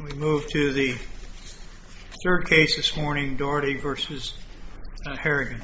We move to the third case this morning, Daugherty v. Harrington.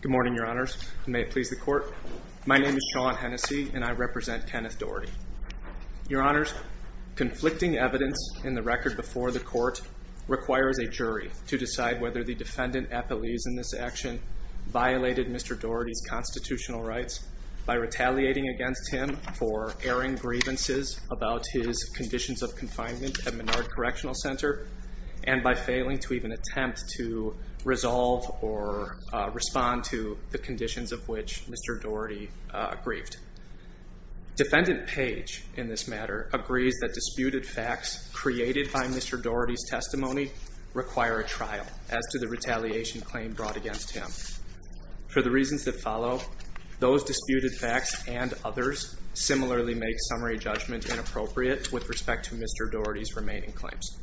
Good morning, your honors. May it please the court. My name is Sean Hennessey, and I represent Kenneth Daugherty. Your honors, conflicting evidence in the record before the court requires a jury to decide whether the defendant appellees in this action violated Mr. Daugherty's constitutional rights by retaliating against him for erring grievances about his conditions of confinement at Menard Correctional Center, and by failing to even attempt to resolve or respond to the conditions of which Mr. Daugherty grieved. Defendant Page, in this matter, agrees that disputed facts created by Mr. Daugherty's for the reasons that follow, those disputed facts and others similarly make summary judgment inappropriate with respect to Mr. Daugherty's remaining claims.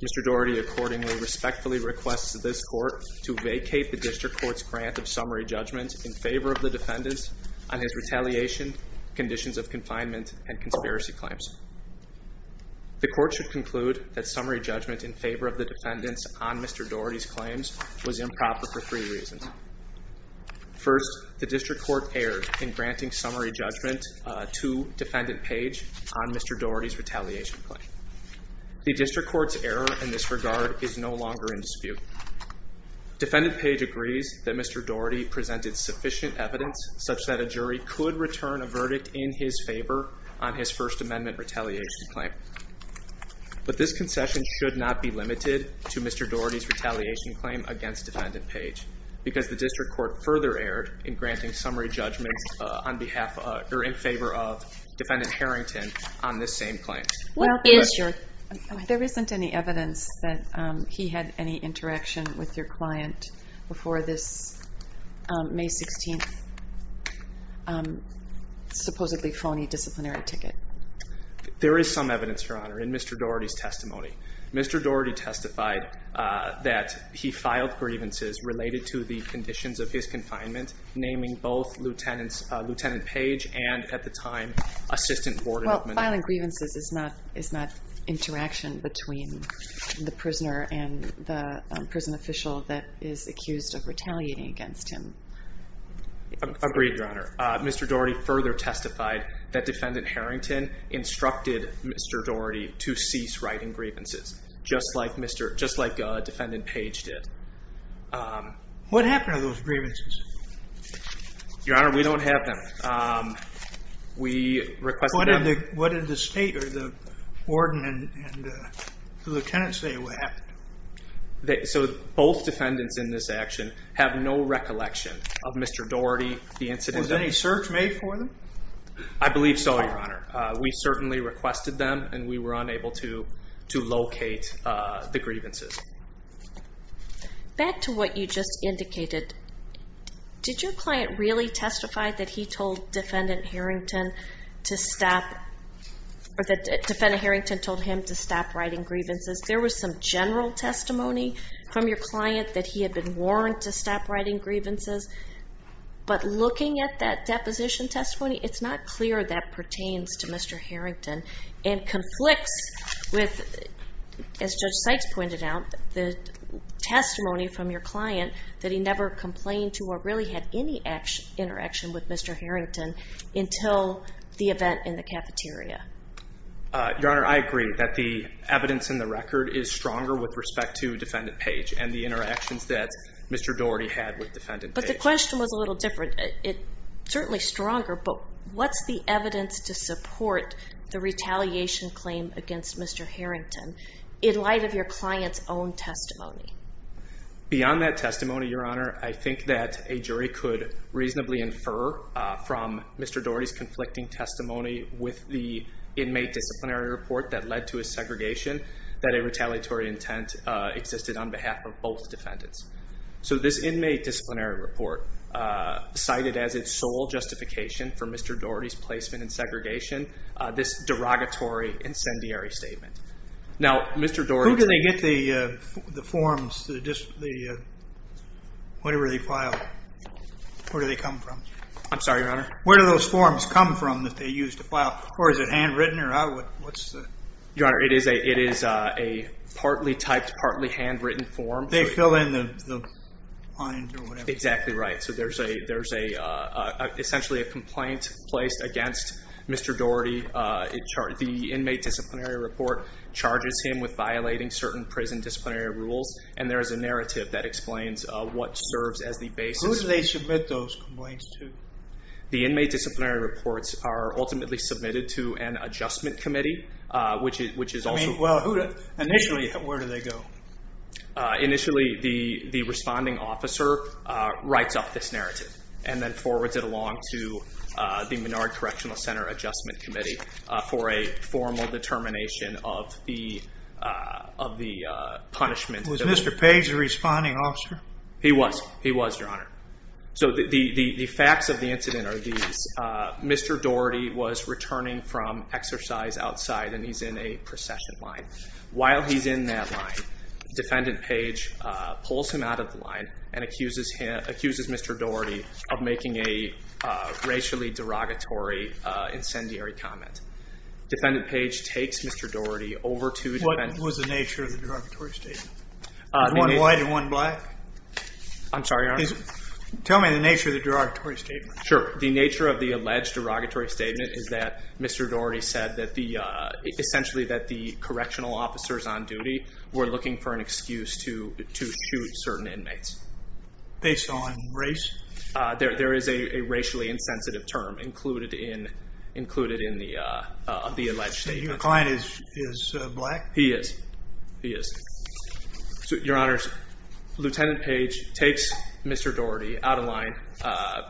Mr. Daugherty accordingly respectfully requests this court to vacate the district court's grant of summary judgment in favor of the defendants on his retaliation conditions of confinement and conspiracy claims. The court should conclude that summary judgment in favor of the defendants on Mr. Daugherty's retaliation claims is inappropriate for two reasons. First, the district court erred in granting summary judgment to Defendant Page on Mr. Daugherty's retaliation claim. The district court's error in this regard is no longer in dispute. Defendant Page agrees that Mr. Daugherty presented sufficient evidence such that a jury could return a verdict in his favor on his First Amendment retaliation claim. But this concession should not be limited to Mr. Daugherty's retaliation claim against Defendant Page because the district court further erred in granting summary judgment in favor of Defendant Harrington on this same claim. Well, there isn't any evidence that he had any interaction with your client before this May 16th supposedly phony disciplinary ticket. There is some evidence, Your Honor, in Mr. Daugherty's testimony. Mr. Daugherty testified that he filed grievances related to the conditions of his confinement, naming both Lieutenant Page and, at the time, Assistant Warden of Manila. Well, filing grievances is not interaction between the prisoner and the prison official that is accused of retaliating against him. Agreed, Your Honor. Mr. Daugherty further testified that Defendant Harrington instructed Mr. Daugherty to cease writing grievances, just like Defendant Page did. What happened to those grievances? Your Honor, we don't have them. We requested them... What did the State or the Warden and the Lieutenant say what happened? So, both defendants in this action have no recollection of Mr. Daugherty, the incident... Was any search made for them? I believe so, Your Honor. We certainly requested them and we were unable to locate the grievances. Back to what you just indicated, did your client really testify that he told Defendant Harrington to stop, or that Defendant Harrington told him to stop writing grievances? There was some general testimony from your client that he had been warned to stop writing grievances, but looking at that deposition testimony, it's not clear that pertains to Mr. Harrington and conflicts with, as Judge Sykes pointed out, the testimony from your client that he never complained to or really had any interaction with Mr. Harrington until the event in the cafeteria. Your Honor, I agree that the evidence in the record is stronger with respect to Defendant Page and the interactions that Mr. Daugherty had with Defendant Page. But the question was a little different. It's certainly stronger, but what's the evidence to support the retaliation claim against Mr. Harrington in light of your client's own testimony? Beyond that testimony, Your Honor, I think that a jury could reasonably infer from Mr. Daugherty's inmate disciplinary report that led to his segregation that a retaliatory intent existed on behalf of both defendants. So this inmate disciplinary report, cited as its sole justification for Mr. Daugherty's placement in segregation, this derogatory incendiary statement. Now, Mr. Daugherty... Who did they get the forms, the whatever they filed? Where do they come from? I'm sorry, Your Honor? Where do those forms come from that they used to file? Or is it handwritten? Your Honor, it is a partly typed, partly handwritten form. They fill in the... Exactly right. So there's essentially a complaint placed against Mr. Daugherty. The inmate disciplinary report charges him with violating certain prison disciplinary rules, and there is a narrative that explains what serves as the basis. Who do they submit those complaints to? The inmate disciplinary reports are ultimately submitted to an adjustment committee, which is also... Well, initially, where do they go? Initially, the responding officer writes up this narrative and then forwards it along to the Menard Correctional Center Adjustment Committee for a formal determination of the punishment. Was Mr. Page a responding officer? He was. He was, Your Honor. So the facts of the incident are these. Mr. Daugherty was returning from exercise outside, and he's in a procession line. While he's in that line, Defendant Page pulls him out of the line and accuses Mr. Daugherty of making a racially derogatory incendiary comment. Defendant Page takes Mr. Daugherty over to... What was the nature of the derogatory statement? One white and one black? I'm sorry, Your Honor. Tell me the nature of the derogatory statement. Sure. The nature of the alleged derogatory statement is that Mr. Daugherty said that essentially that the correctional officers on duty were looking for an excuse to shoot certain inmates. Based on race? There is a racially insensitive term included in the alleged statement. Your client is black? He is. He is. So, Your Honor, Lieutenant Page takes Mr. Daugherty out of line,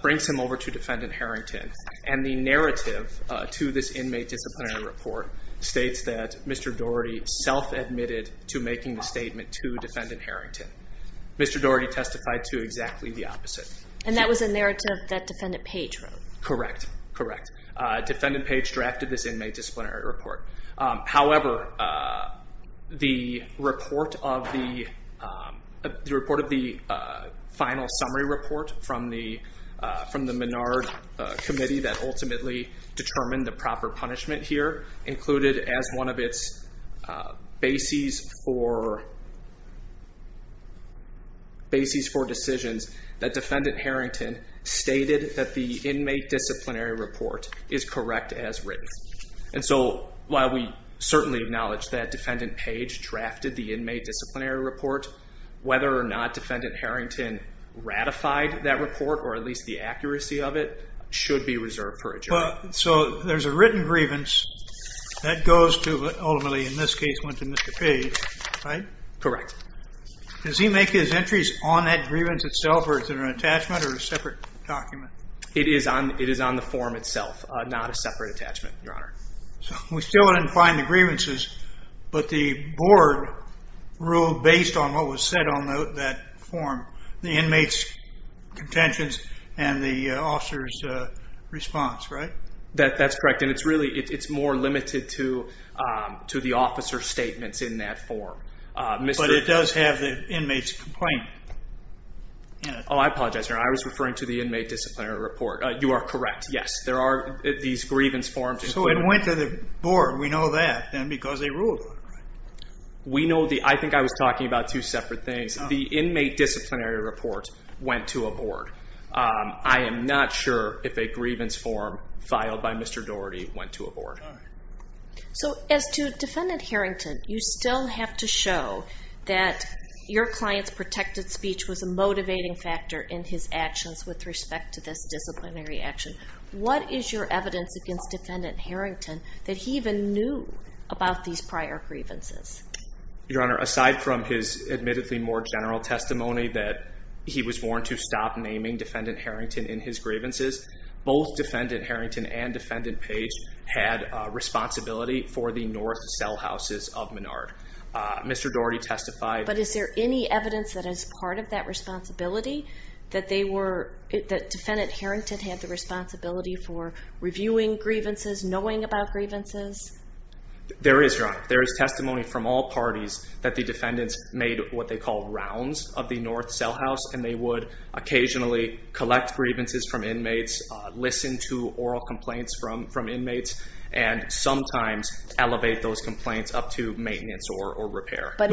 brings him over to Defendant Harrington, and the narrative to this inmate disciplinary report states that Mr. Daugherty self-admitted to making the statement to Defendant Harrington. Mr. Daugherty testified to exactly the opposite. And that was a narrative that Defendant Page wrote? Correct. Correct. Defendant Page drafted this inmate disciplinary report. However, the report of the final summary report from the Menard Committee that ultimately determined the proper punishment here included as one of its bases for decisions that Defendant Harrington stated that the inmate disciplinary report is correct as written. And so, while we certainly acknowledge that Defendant Page drafted the inmate disciplinary report, whether or not Defendant Harrington ratified that report, or at least the accuracy of it, should be reserved for adjournment. So, there's a written grievance that ultimately, in this case, went to Mr. Page, right? Correct. Does he make his entries on that grievance itself, or is it an attachment or a separate document? It is on the form itself, not a separate attachment, Your Honor. So, we still didn't find the grievances, but the board ruled based on what was said on that form, the inmate's contentions and the officer's response, right? That's correct. And it's really, it's more limited to the officer's statements in that form. But it does have the inmate's complaint. Oh, I apologize, Your Honor. I was referring to the inmate disciplinary report. You are correct, yes. There are these grievance forms. So, it went to the board. We know that, then, because they ruled on it, right? We know the, I think I was talking about two separate things. The inmate disciplinary report went to a board. I am not sure if a grievance form filed by Mr. Doherty went to a board. So, as to Defendant Harrington, you still have to show that your client's protected speech was a motivating factor in his actions with respect to this disciplinary action. What is your evidence against Defendant Harrington that he even knew about these prior grievances? Your Honor, aside from his admittedly more general testimony that he was warned to stop naming Defendant Harrington in his grievances, both Defendant Harrington and Defendant Page had responsibility for the North cell houses of Menard. Mr. Doherty testified. Is there any evidence that, as part of that responsibility, that Defendant Harrington had the responsibility for reviewing grievances, knowing about grievances? There is, Your Honor. There is testimony from all parties that the defendants made what they call rounds of the North cell house, and they would occasionally collect grievances from inmates, listen to oral complaints from inmates, and sometimes elevate those complaints up to maintenance or repair. I'm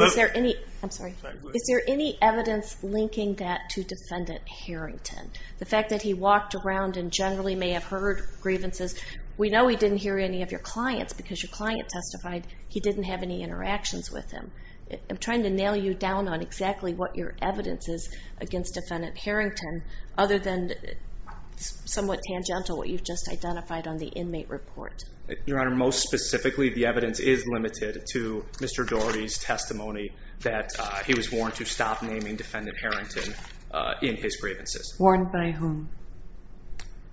sorry. Is there any evidence linking that to Defendant Harrington? The fact that he walked around and generally may have heard grievances, we know he didn't hear any of your clients, because your client testified he didn't have any interactions with him. I'm trying to nail you down on exactly what your evidence is against Defendant Harrington, other than somewhat tangential, what you've just identified on the inmate report. Your Honor, most specifically, the evidence is limited to Mr. Doherty's testimony that he was warned to stop naming Defendant Harrington in his grievances. Warned by whom?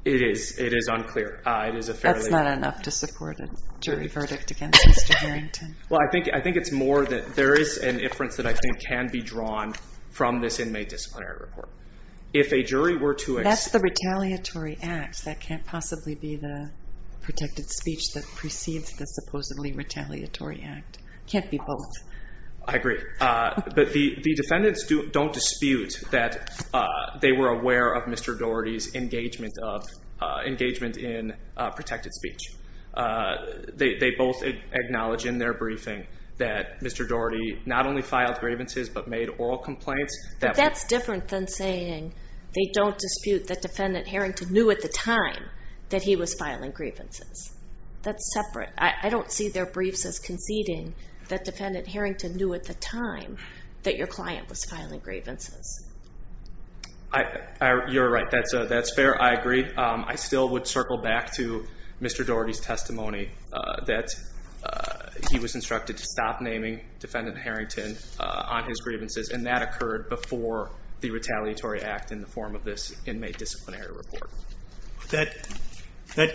It is. It is unclear. That's not enough to support a jury verdict against Mr. Harrington. Well, I think it's more that there is an inference that I think can be drawn from this inmate disciplinary report. If a jury were to... That's the retaliatory act. That can't possibly be the protected speech that precedes the supposedly retaliatory act. Can't be both. I agree. But the defendants don't dispute that they were aware of Mr. Doherty's engagement in protected speech. They both acknowledge in their briefing that Mr. Doherty not only filed grievances, but made oral complaints. But that's different than saying they don't dispute that Defendant Harrington knew at the time that he was filing grievances. That's separate. I don't see their briefs as conceding that Defendant Harrington knew at the time that your client was filing grievances. You're right. That's fair. I agree. I still would circle back to Mr. Doherty's testimony that he was instructed to stop naming Defendant Harrington on his grievances. And that occurred before the retaliatory act in the form of this inmate disciplinary report. That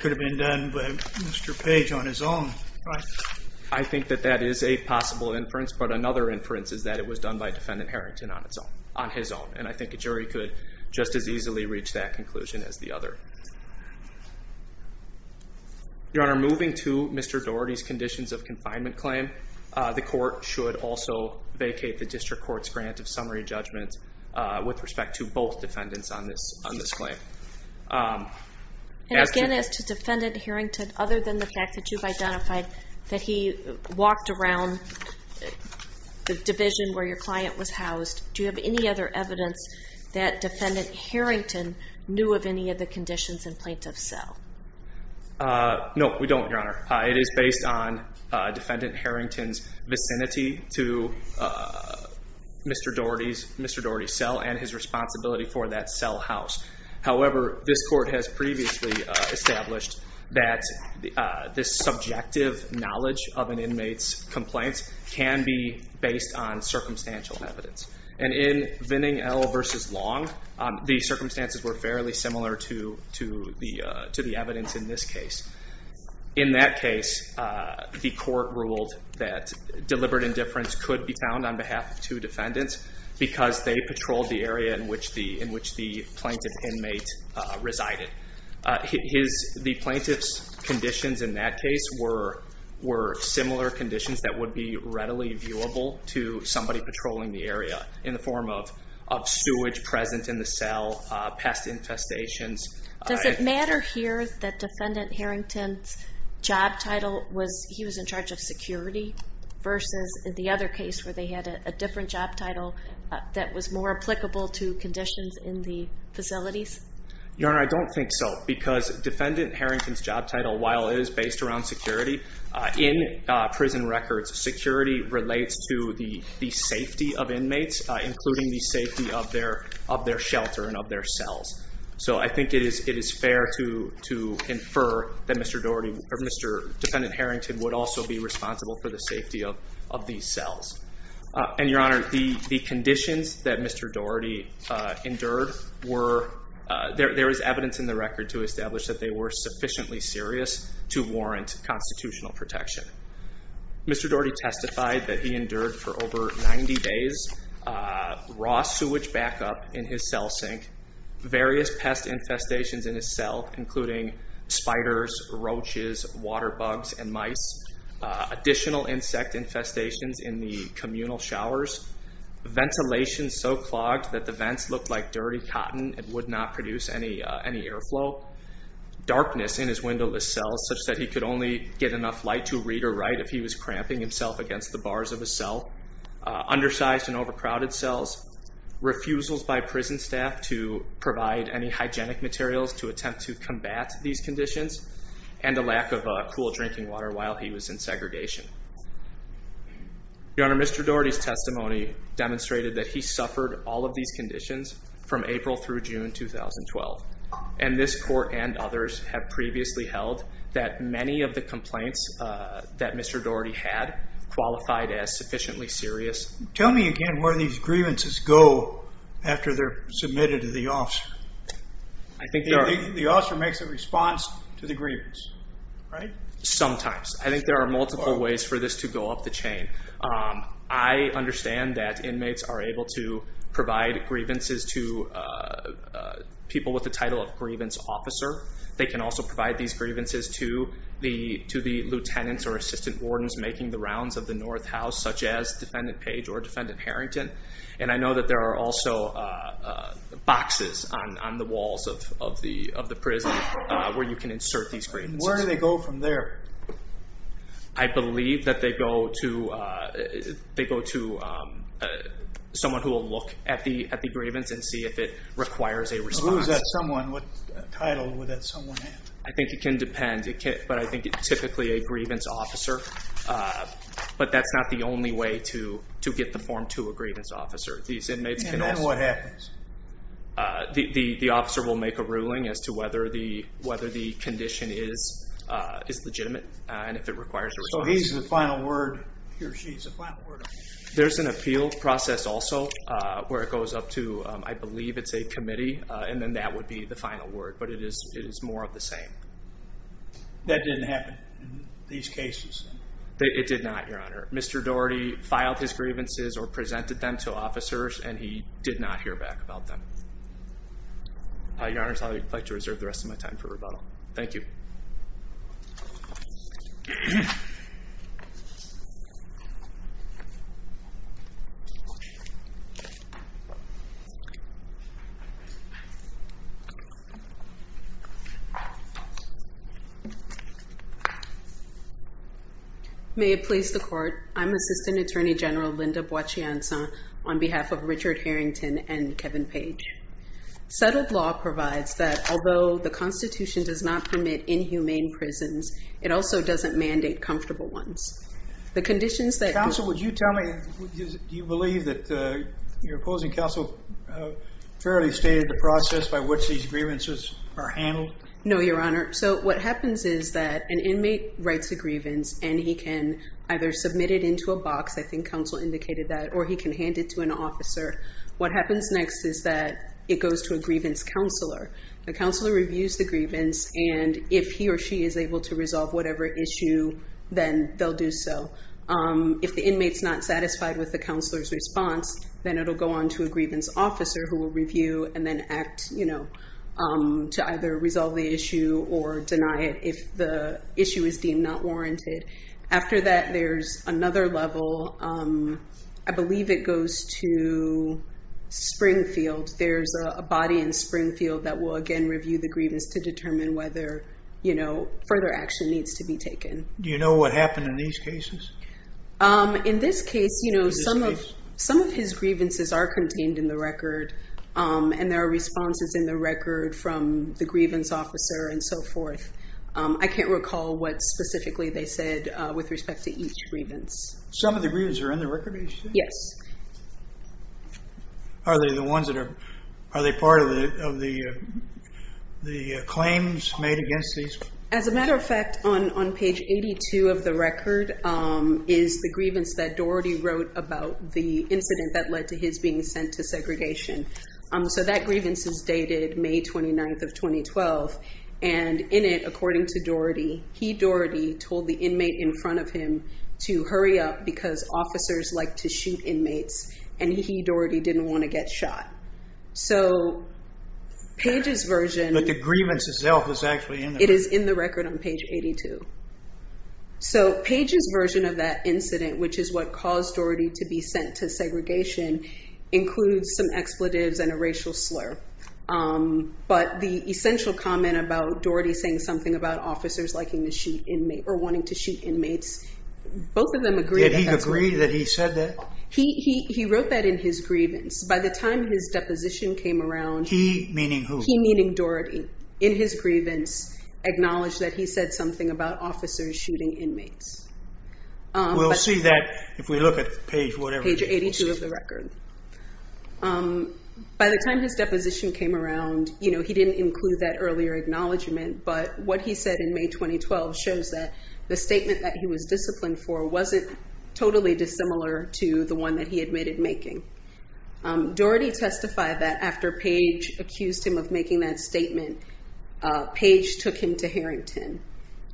could have been done by Mr. Page on his own. I think that that is a possible inference. But another inference is that it was done by Defendant Harrington on his own. And I think a jury could just as easily reach that conclusion as the other. Your Honor, moving to Mr. Doherty's conditions of confinement claim, the court should also vacate the district court's grant of summary judgment with respect to both defendants on this claim. And again, as to Defendant Harrington, other than the fact that you've identified that he walked around the division where your client was housed, do you have any other evidence that Defendant Harrington knew of any of the conditions in plaintiff's cell? No, we don't, Your Honor. It is based on Defendant Harrington's vicinity to Mr. Doherty's cell and his responsibility for that cell house. However, this court has previously established that this subjective knowledge of an inmate's complaints can be based on circumstantial evidence. And in Vinning L. v. Long, the circumstances were fairly similar to the evidence in this case. In that case, the court ruled that deliberate indifference could be found on behalf of two defendants because they patrolled the area in which the plaintiff's inmate resided. The plaintiff's conditions in that case were similar conditions that would be readily viewable to somebody patrolling the area in the form of sewage present in the cell, pest infestations. Does it matter here that Defendant Harrington's job title was, he was in charge of security versus the other case where they had a different job title that was more applicable to conditions in the facilities? Your Honor, I don't think so. Because Defendant Harrington's job title, while it is based around security, in prison records, security relates to the safety of inmates, including the safety of their shelter and of their cells. So I think it is fair to infer that Mr. Doherty, or Mr. Defendant Harrington, would also be responsible for the safety of these cells. And Your Honor, the conditions that Mr. Doherty endured were, there is evidence in the record to establish that they were sufficiently serious to warrant constitutional protection. Mr. Doherty testified that he endured for over 90 days raw sewage backup in his cell sink, various pest infestations in his cell, including spiders, roaches, water bugs, and mice, additional insect infestations in the communal showers, ventilation so clogged that the vents looked like dirty cotton and would not produce any airflow, darkness in his windowless cells, such that he could only get enough light to read or write if he was cramping himself against the bars of his cell, undersized and overcrowded cells, refusals by prison staff to provide any hygienic materials to attempt to combat these conditions, and a lack of cool drinking water while he was in segregation. Your Honor, Mr. Doherty's testimony demonstrated that he suffered all of these conditions from April through June 2012. And this court and others have previously held that many of the complaints that Mr. Doherty had qualified as sufficiently serious. Tell me again where these grievances go after they're submitted to the officer. I think the officer makes a response to the grievance, right? Sometimes. I think there are multiple ways for this to go up the chain. I understand that inmates are able to provide grievances to people with the title of grievance officer. They can also provide these grievances to the lieutenants or assistant wardens making the page or defendant Harrington. And I know that there are also boxes on the walls of the prison where you can insert these grievances. Where do they go from there? I believe that they go to someone who will look at the grievance and see if it requires a response. Who is that someone? What title would that someone have? I think it can depend, but I think typically a grievance officer. But that's not the only way to get the form to a grievance officer. And then what happens? The officer will make a ruling as to whether the condition is legitimate and if it requires a response. So he's the final word, he or she's the final word. There's an appeal process also where it goes up to, I believe it's a committee, and then that would be the final word. But it is more of the same. That didn't happen in these cases. It did not, Your Honor. Mr. Doherty filed his grievances or presented them to officers and he did not hear back about them. Your Honor, I'd like to reserve the rest of my time for rebuttal. Thank you. May it please the court. I'm Assistant Attorney General Linda Boachianza on behalf of Richard Harrington and Kevin Page. Settled law provides that although the Constitution does not permit inhumane prisons, it also doesn't mandate comfortable ones. The conditions that- Counsel, would you tell me, do you believe that your opposing counsel fairly stated the process by which these grievances are handled? No, Your Honor. So what happens is that an inmate writes a grievance and he can either submit it into a box, I think counsel indicated that, or he can hand it to an officer. What happens next is that it goes to a grievance counselor. The counselor reviews the grievance and if he or she is able to resolve whatever issue, then they'll do so. If the inmate's not satisfied with the counselor's response, then it'll go on to a grievance officer who will review and then act to either resolve the issue or deny it if the issue is deemed not warranted. After that, there's another level. I believe it goes to Springfield. There's a body in Springfield that will again review the grievance to determine whether further action needs to be taken. Do you know what happened in these cases? In this case, you know, some of his grievances are contained in the record and there are responses in the record from the grievance officer and so forth. I can't recall what specifically they said with respect to each grievance. Some of the grievances are in the record? Yes. Are they the ones that are, are they part of the claims made against these? As a matter of fact, on page 82 of the record is the grievance that Doherty wrote about the incident that led to his being sent to segregation. So that grievance is dated May 29th of 2012. And in it, according to Doherty, he, Doherty, told the inmate in front of him to hurry up because officers like to shoot inmates and he, Doherty, didn't want to get shot. So Page's version... But the grievance itself is actually in there. It is in the record on page 82. So Page's version of that incident, which is what caused Doherty to be sent to segregation, includes some expletives and a racial slur. But the essential comment about Doherty saying something about officers liking to shoot inmate or wanting to shoot inmates, both of them agree. Did he agree that he said that? He, he, he wrote that in his grievance. By the time his deposition came around. He meaning who? He meaning Doherty. In his grievance, acknowledged that he said something about officers shooting inmates. We'll see that if we look at page whatever. Page 82 of the record. By the time his deposition came around, you know, he didn't include that earlier acknowledgement. But what he said in May 2012 shows that the statement that he was disciplined for wasn't totally dissimilar to the one that he admitted making. Doherty testified that after Page accused him of making that statement. Page took him to Harrington.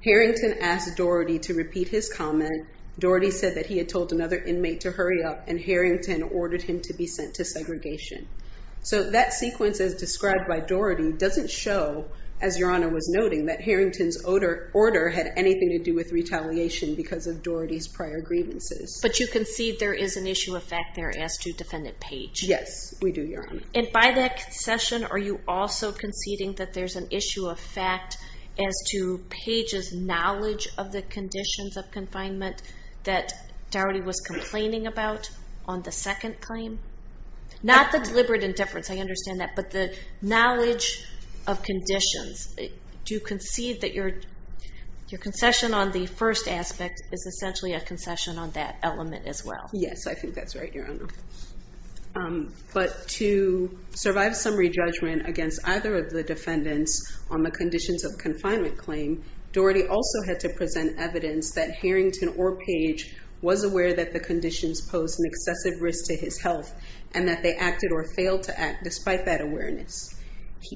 Harrington asked Doherty to repeat his comment. Doherty said that he had told another inmate to hurry up and Harrington ordered him to be sent to segregation. So that sequence as described by Doherty doesn't show, as Your Honor was noting, that Harrington's order had anything to do with retaliation because of Doherty's prior grievances. But you concede there is an issue of fact there as to Defendant Page. Yes, we do, Your Honor. And by that concession, are you also conceding that there's an issue of fact as to Page's knowledge of the conditions of confinement that Doherty was complaining about on the second claim? Not the deliberate indifference, I understand that, but the knowledge of conditions. Do you concede that your concession on the first aspect is essentially a concession on element as well? Yes, I think that's right, Your Honor. But to survive summary judgment against either of the defendants on the conditions of confinement claim, Doherty also had to present evidence that Harrington or Page was aware that the conditions posed an excessive risk to his health and that they acted or failed to act despite that awareness.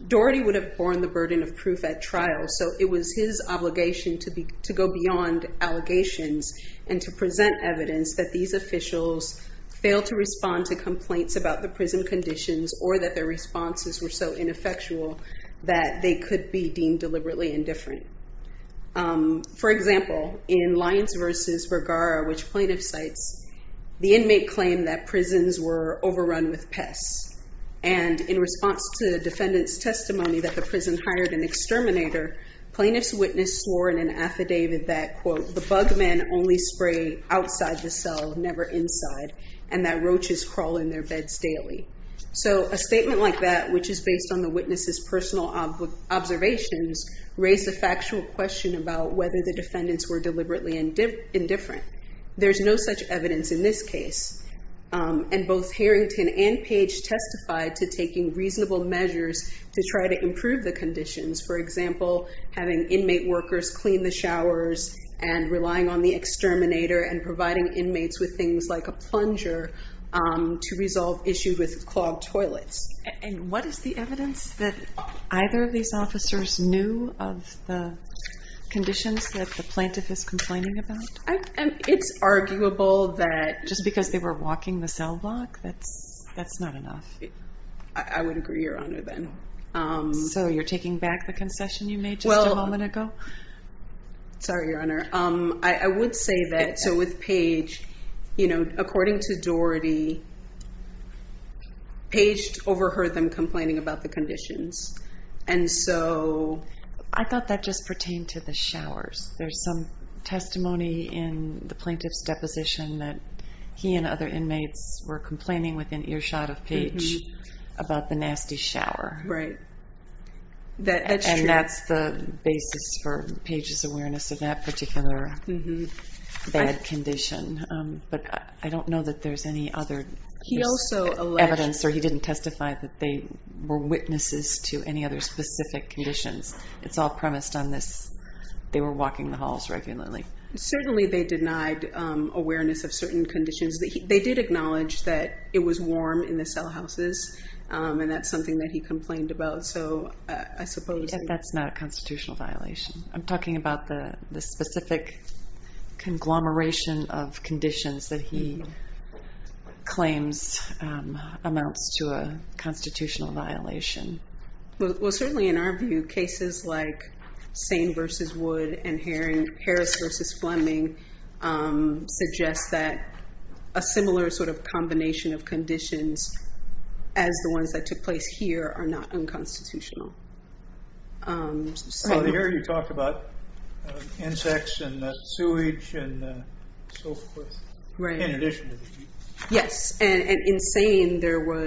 Doherty would have borne the burden of proof at trial, so it was his obligation to go beyond allegations and to present evidence that these officials failed to respond to complaints about the prison conditions or that their responses were so ineffectual that they could be deemed deliberately indifferent. For example, in Lyons v. Vergara, which plaintiff cites, the inmate claimed that prisons were overrun with pests. And in response to the defendant's testimony that the prison hired an exterminator, plaintiff's affidavit that, quote, the bug men only spray outside the cell, never inside, and that roaches crawl in their beds daily. So a statement like that, which is based on the witness's personal observations, raised a factual question about whether the defendants were deliberately indifferent. There's no such evidence in this case. And both Harrington and Page testified to taking reasonable measures to try to improve the conditions, for example, having inmate workers clean the showers and relying on the exterminator and providing inmates with things like a plunger to resolve issues with clogged toilets. And what is the evidence that either of these officers knew of the conditions that the plaintiff is complaining about? It's arguable that just because they were walking the cell block, that's not enough. I would agree, Your Honor, then. So you're taking back the concession you made just a moment ago? Sorry, Your Honor. I would say that, so with Page, according to Doherty, Page overheard them complaining about the conditions. And so I thought that just pertained to the showers. There's some testimony in the plaintiff's deposition that he and other inmates were complaining within earshot of Page about the nasty shower. Right. That's true. And that's the basis for Page's awareness of that particular bad condition. But I don't know that there's any other evidence or he didn't testify that they were witnesses to any other specific conditions. It's all premised on this. They were walking the halls regularly. Certainly, they denied awareness of certain conditions. They did acknowledge that it was warm in the cell houses, and that's something that he complained about. So I suppose that's not a constitutional violation. I'm talking about the specific conglomeration of conditions that he claims amounts to a constitutional violation. Well, certainly, in our view, cases like Sain versus Wood and Harris versus Fleming suggest that a similar sort of combination of conditions as the ones that took place here are not unconstitutional. So here you talked about insects and sewage and so forth in addition to the heat. Yes. And in Sain, there were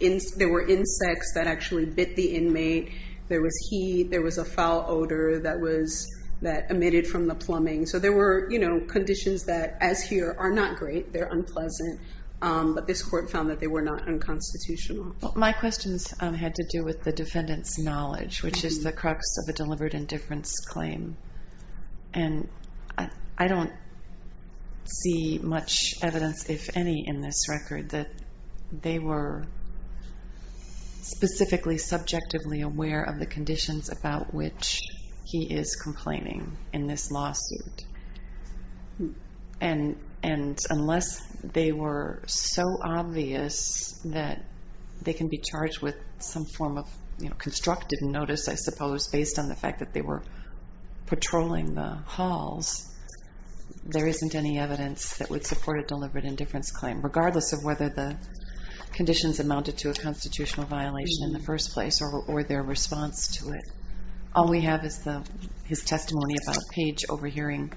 insects that actually bit the inmate. There was heat. There was a foul odor that emitted from the plumbing. So there were conditions that, as here, are not great. They're unpleasant. But this court found that they were not unconstitutional. My questions had to do with the defendant's knowledge, which is the crux of a delivered indifference claim. And I don't see much evidence, if any, in this record that they were specifically subjectively aware of the conditions about which he is complaining in this lawsuit. And unless they were so obvious that they can be charged with some form of constructive notice, I suppose, based on the fact that they were patrolling the halls, there isn't any evidence that would support a delivered indifference claim, regardless of whether the conditions amounted to a constitutional violation in the first place or their response to it. All we have is his testimony about Page overhearing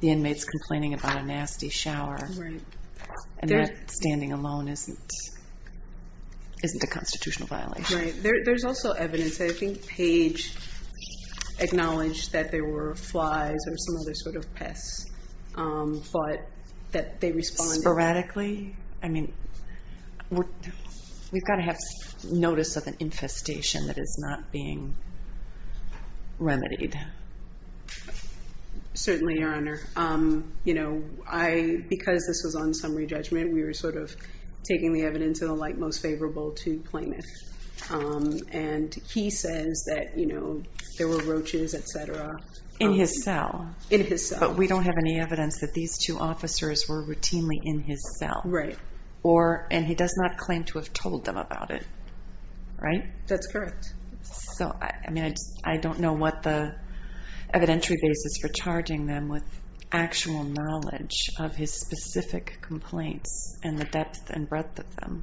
the inmates complaining about a nasty shower. Right. And that, standing alone, isn't a constitutional violation. Right. There's also evidence. I think Page acknowledged that there were flies or some other sort of pests, but that they responded- Sporadically? I mean, we've got to have notice of an infestation that is not being remedied. Certainly, Your Honor. Because this was on summary judgment, we were sort of taking the evidence of the like most favorable to plaintiff. And he says that there were roaches, et cetera. In his cell. In his cell. But we don't have any evidence that these two officers were routinely in his cell. Right. Or, and he does not claim to have told them about it. Right? That's correct. So, I mean, I don't know what the evidentiary basis for charging them with actual knowledge of his specific complaints and the depth and breadth of them,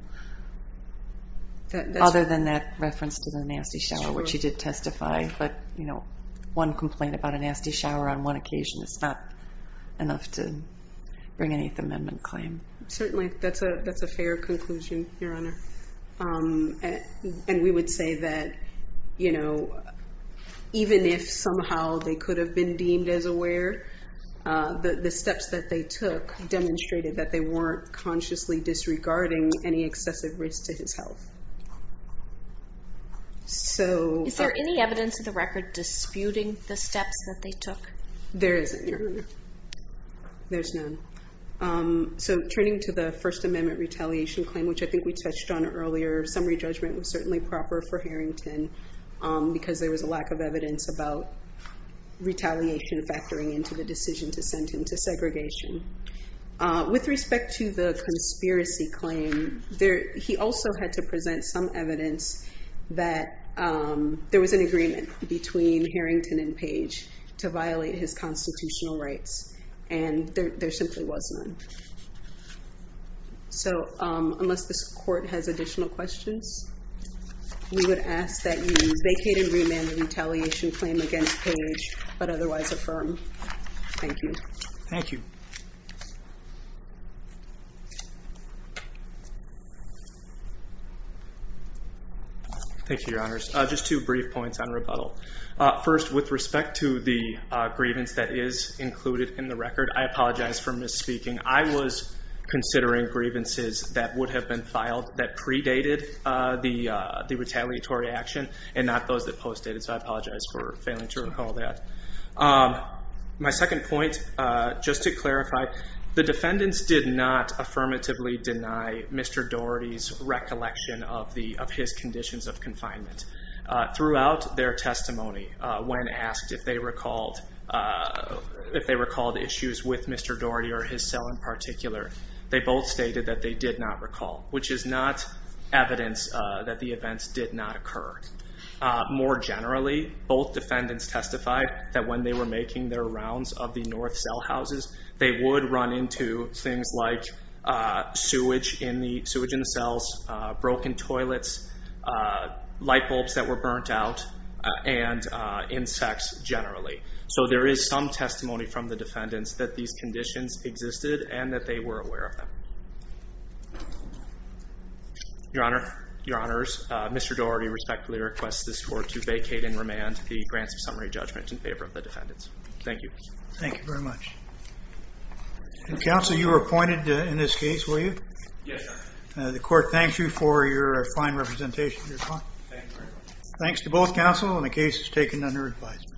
other than that reference to the nasty shower, which he did testify. But one complaint about a nasty shower on one occasion is not enough to bring an Eighth Amendment claim. Certainly. That's a fair conclusion, Your Honor. And we would say that even if somehow they could have been deemed as aware, the steps that they took demonstrated that they weren't consciously disregarding any excessive risk to his health. Is there any evidence of the record disputing the steps that they took? There isn't, Your Honor. There's none. So turning to the First Amendment retaliation claim, which I think we touched on earlier, summary judgment was certainly proper for Harrington, because there was a lack of evidence about retaliation factoring into the decision to send him to segregation. With respect to the conspiracy claim, he also had to present some evidence that there was an agreement between Harrington and Page to violate his constitutional rights, and there simply was none. So unless this Court has additional questions, we would ask that you vacate and remand the retaliation claim against Page, but otherwise affirm. Thank you. Thank you. Thank you, Your Honors. Just two brief points on rebuttal. First, with respect to the grievance that is included in the record, I apologize for misspeaking. I was considering grievances that would have been filed that predated the retaliatory action, and not those that postdated. So I apologize for failing to recall that. My second point, just to clarify, the defendants did not affirmatively deny Mr. Doherty's recollection of his conditions of confinement. Throughout their testimony, when asked if they recalled issues with Mr. Doherty or his cell in particular, they both stated that they did not recall, which is not evidence that the events did not occur. More generally, both defendants testified that when they were making their rounds of the north cell houses, they would run into things like sewage in the cells, broken toilets, light bulbs that were burnt out, and insects generally. So there is some testimony from the defendants that these conditions existed and that they were aware of them. Your Honor, Mr. Doherty respectfully requests this Court to vacate and remand the Grants of Summary Judgment in favor of the defendants. Thank you. Thank you very much. Counsel, you were appointed in this case, were you? Yes, Your Honor. The Court thanks you for your fine representation. Thank you very much. Thanks to both counsel, and the case is taken under advisement.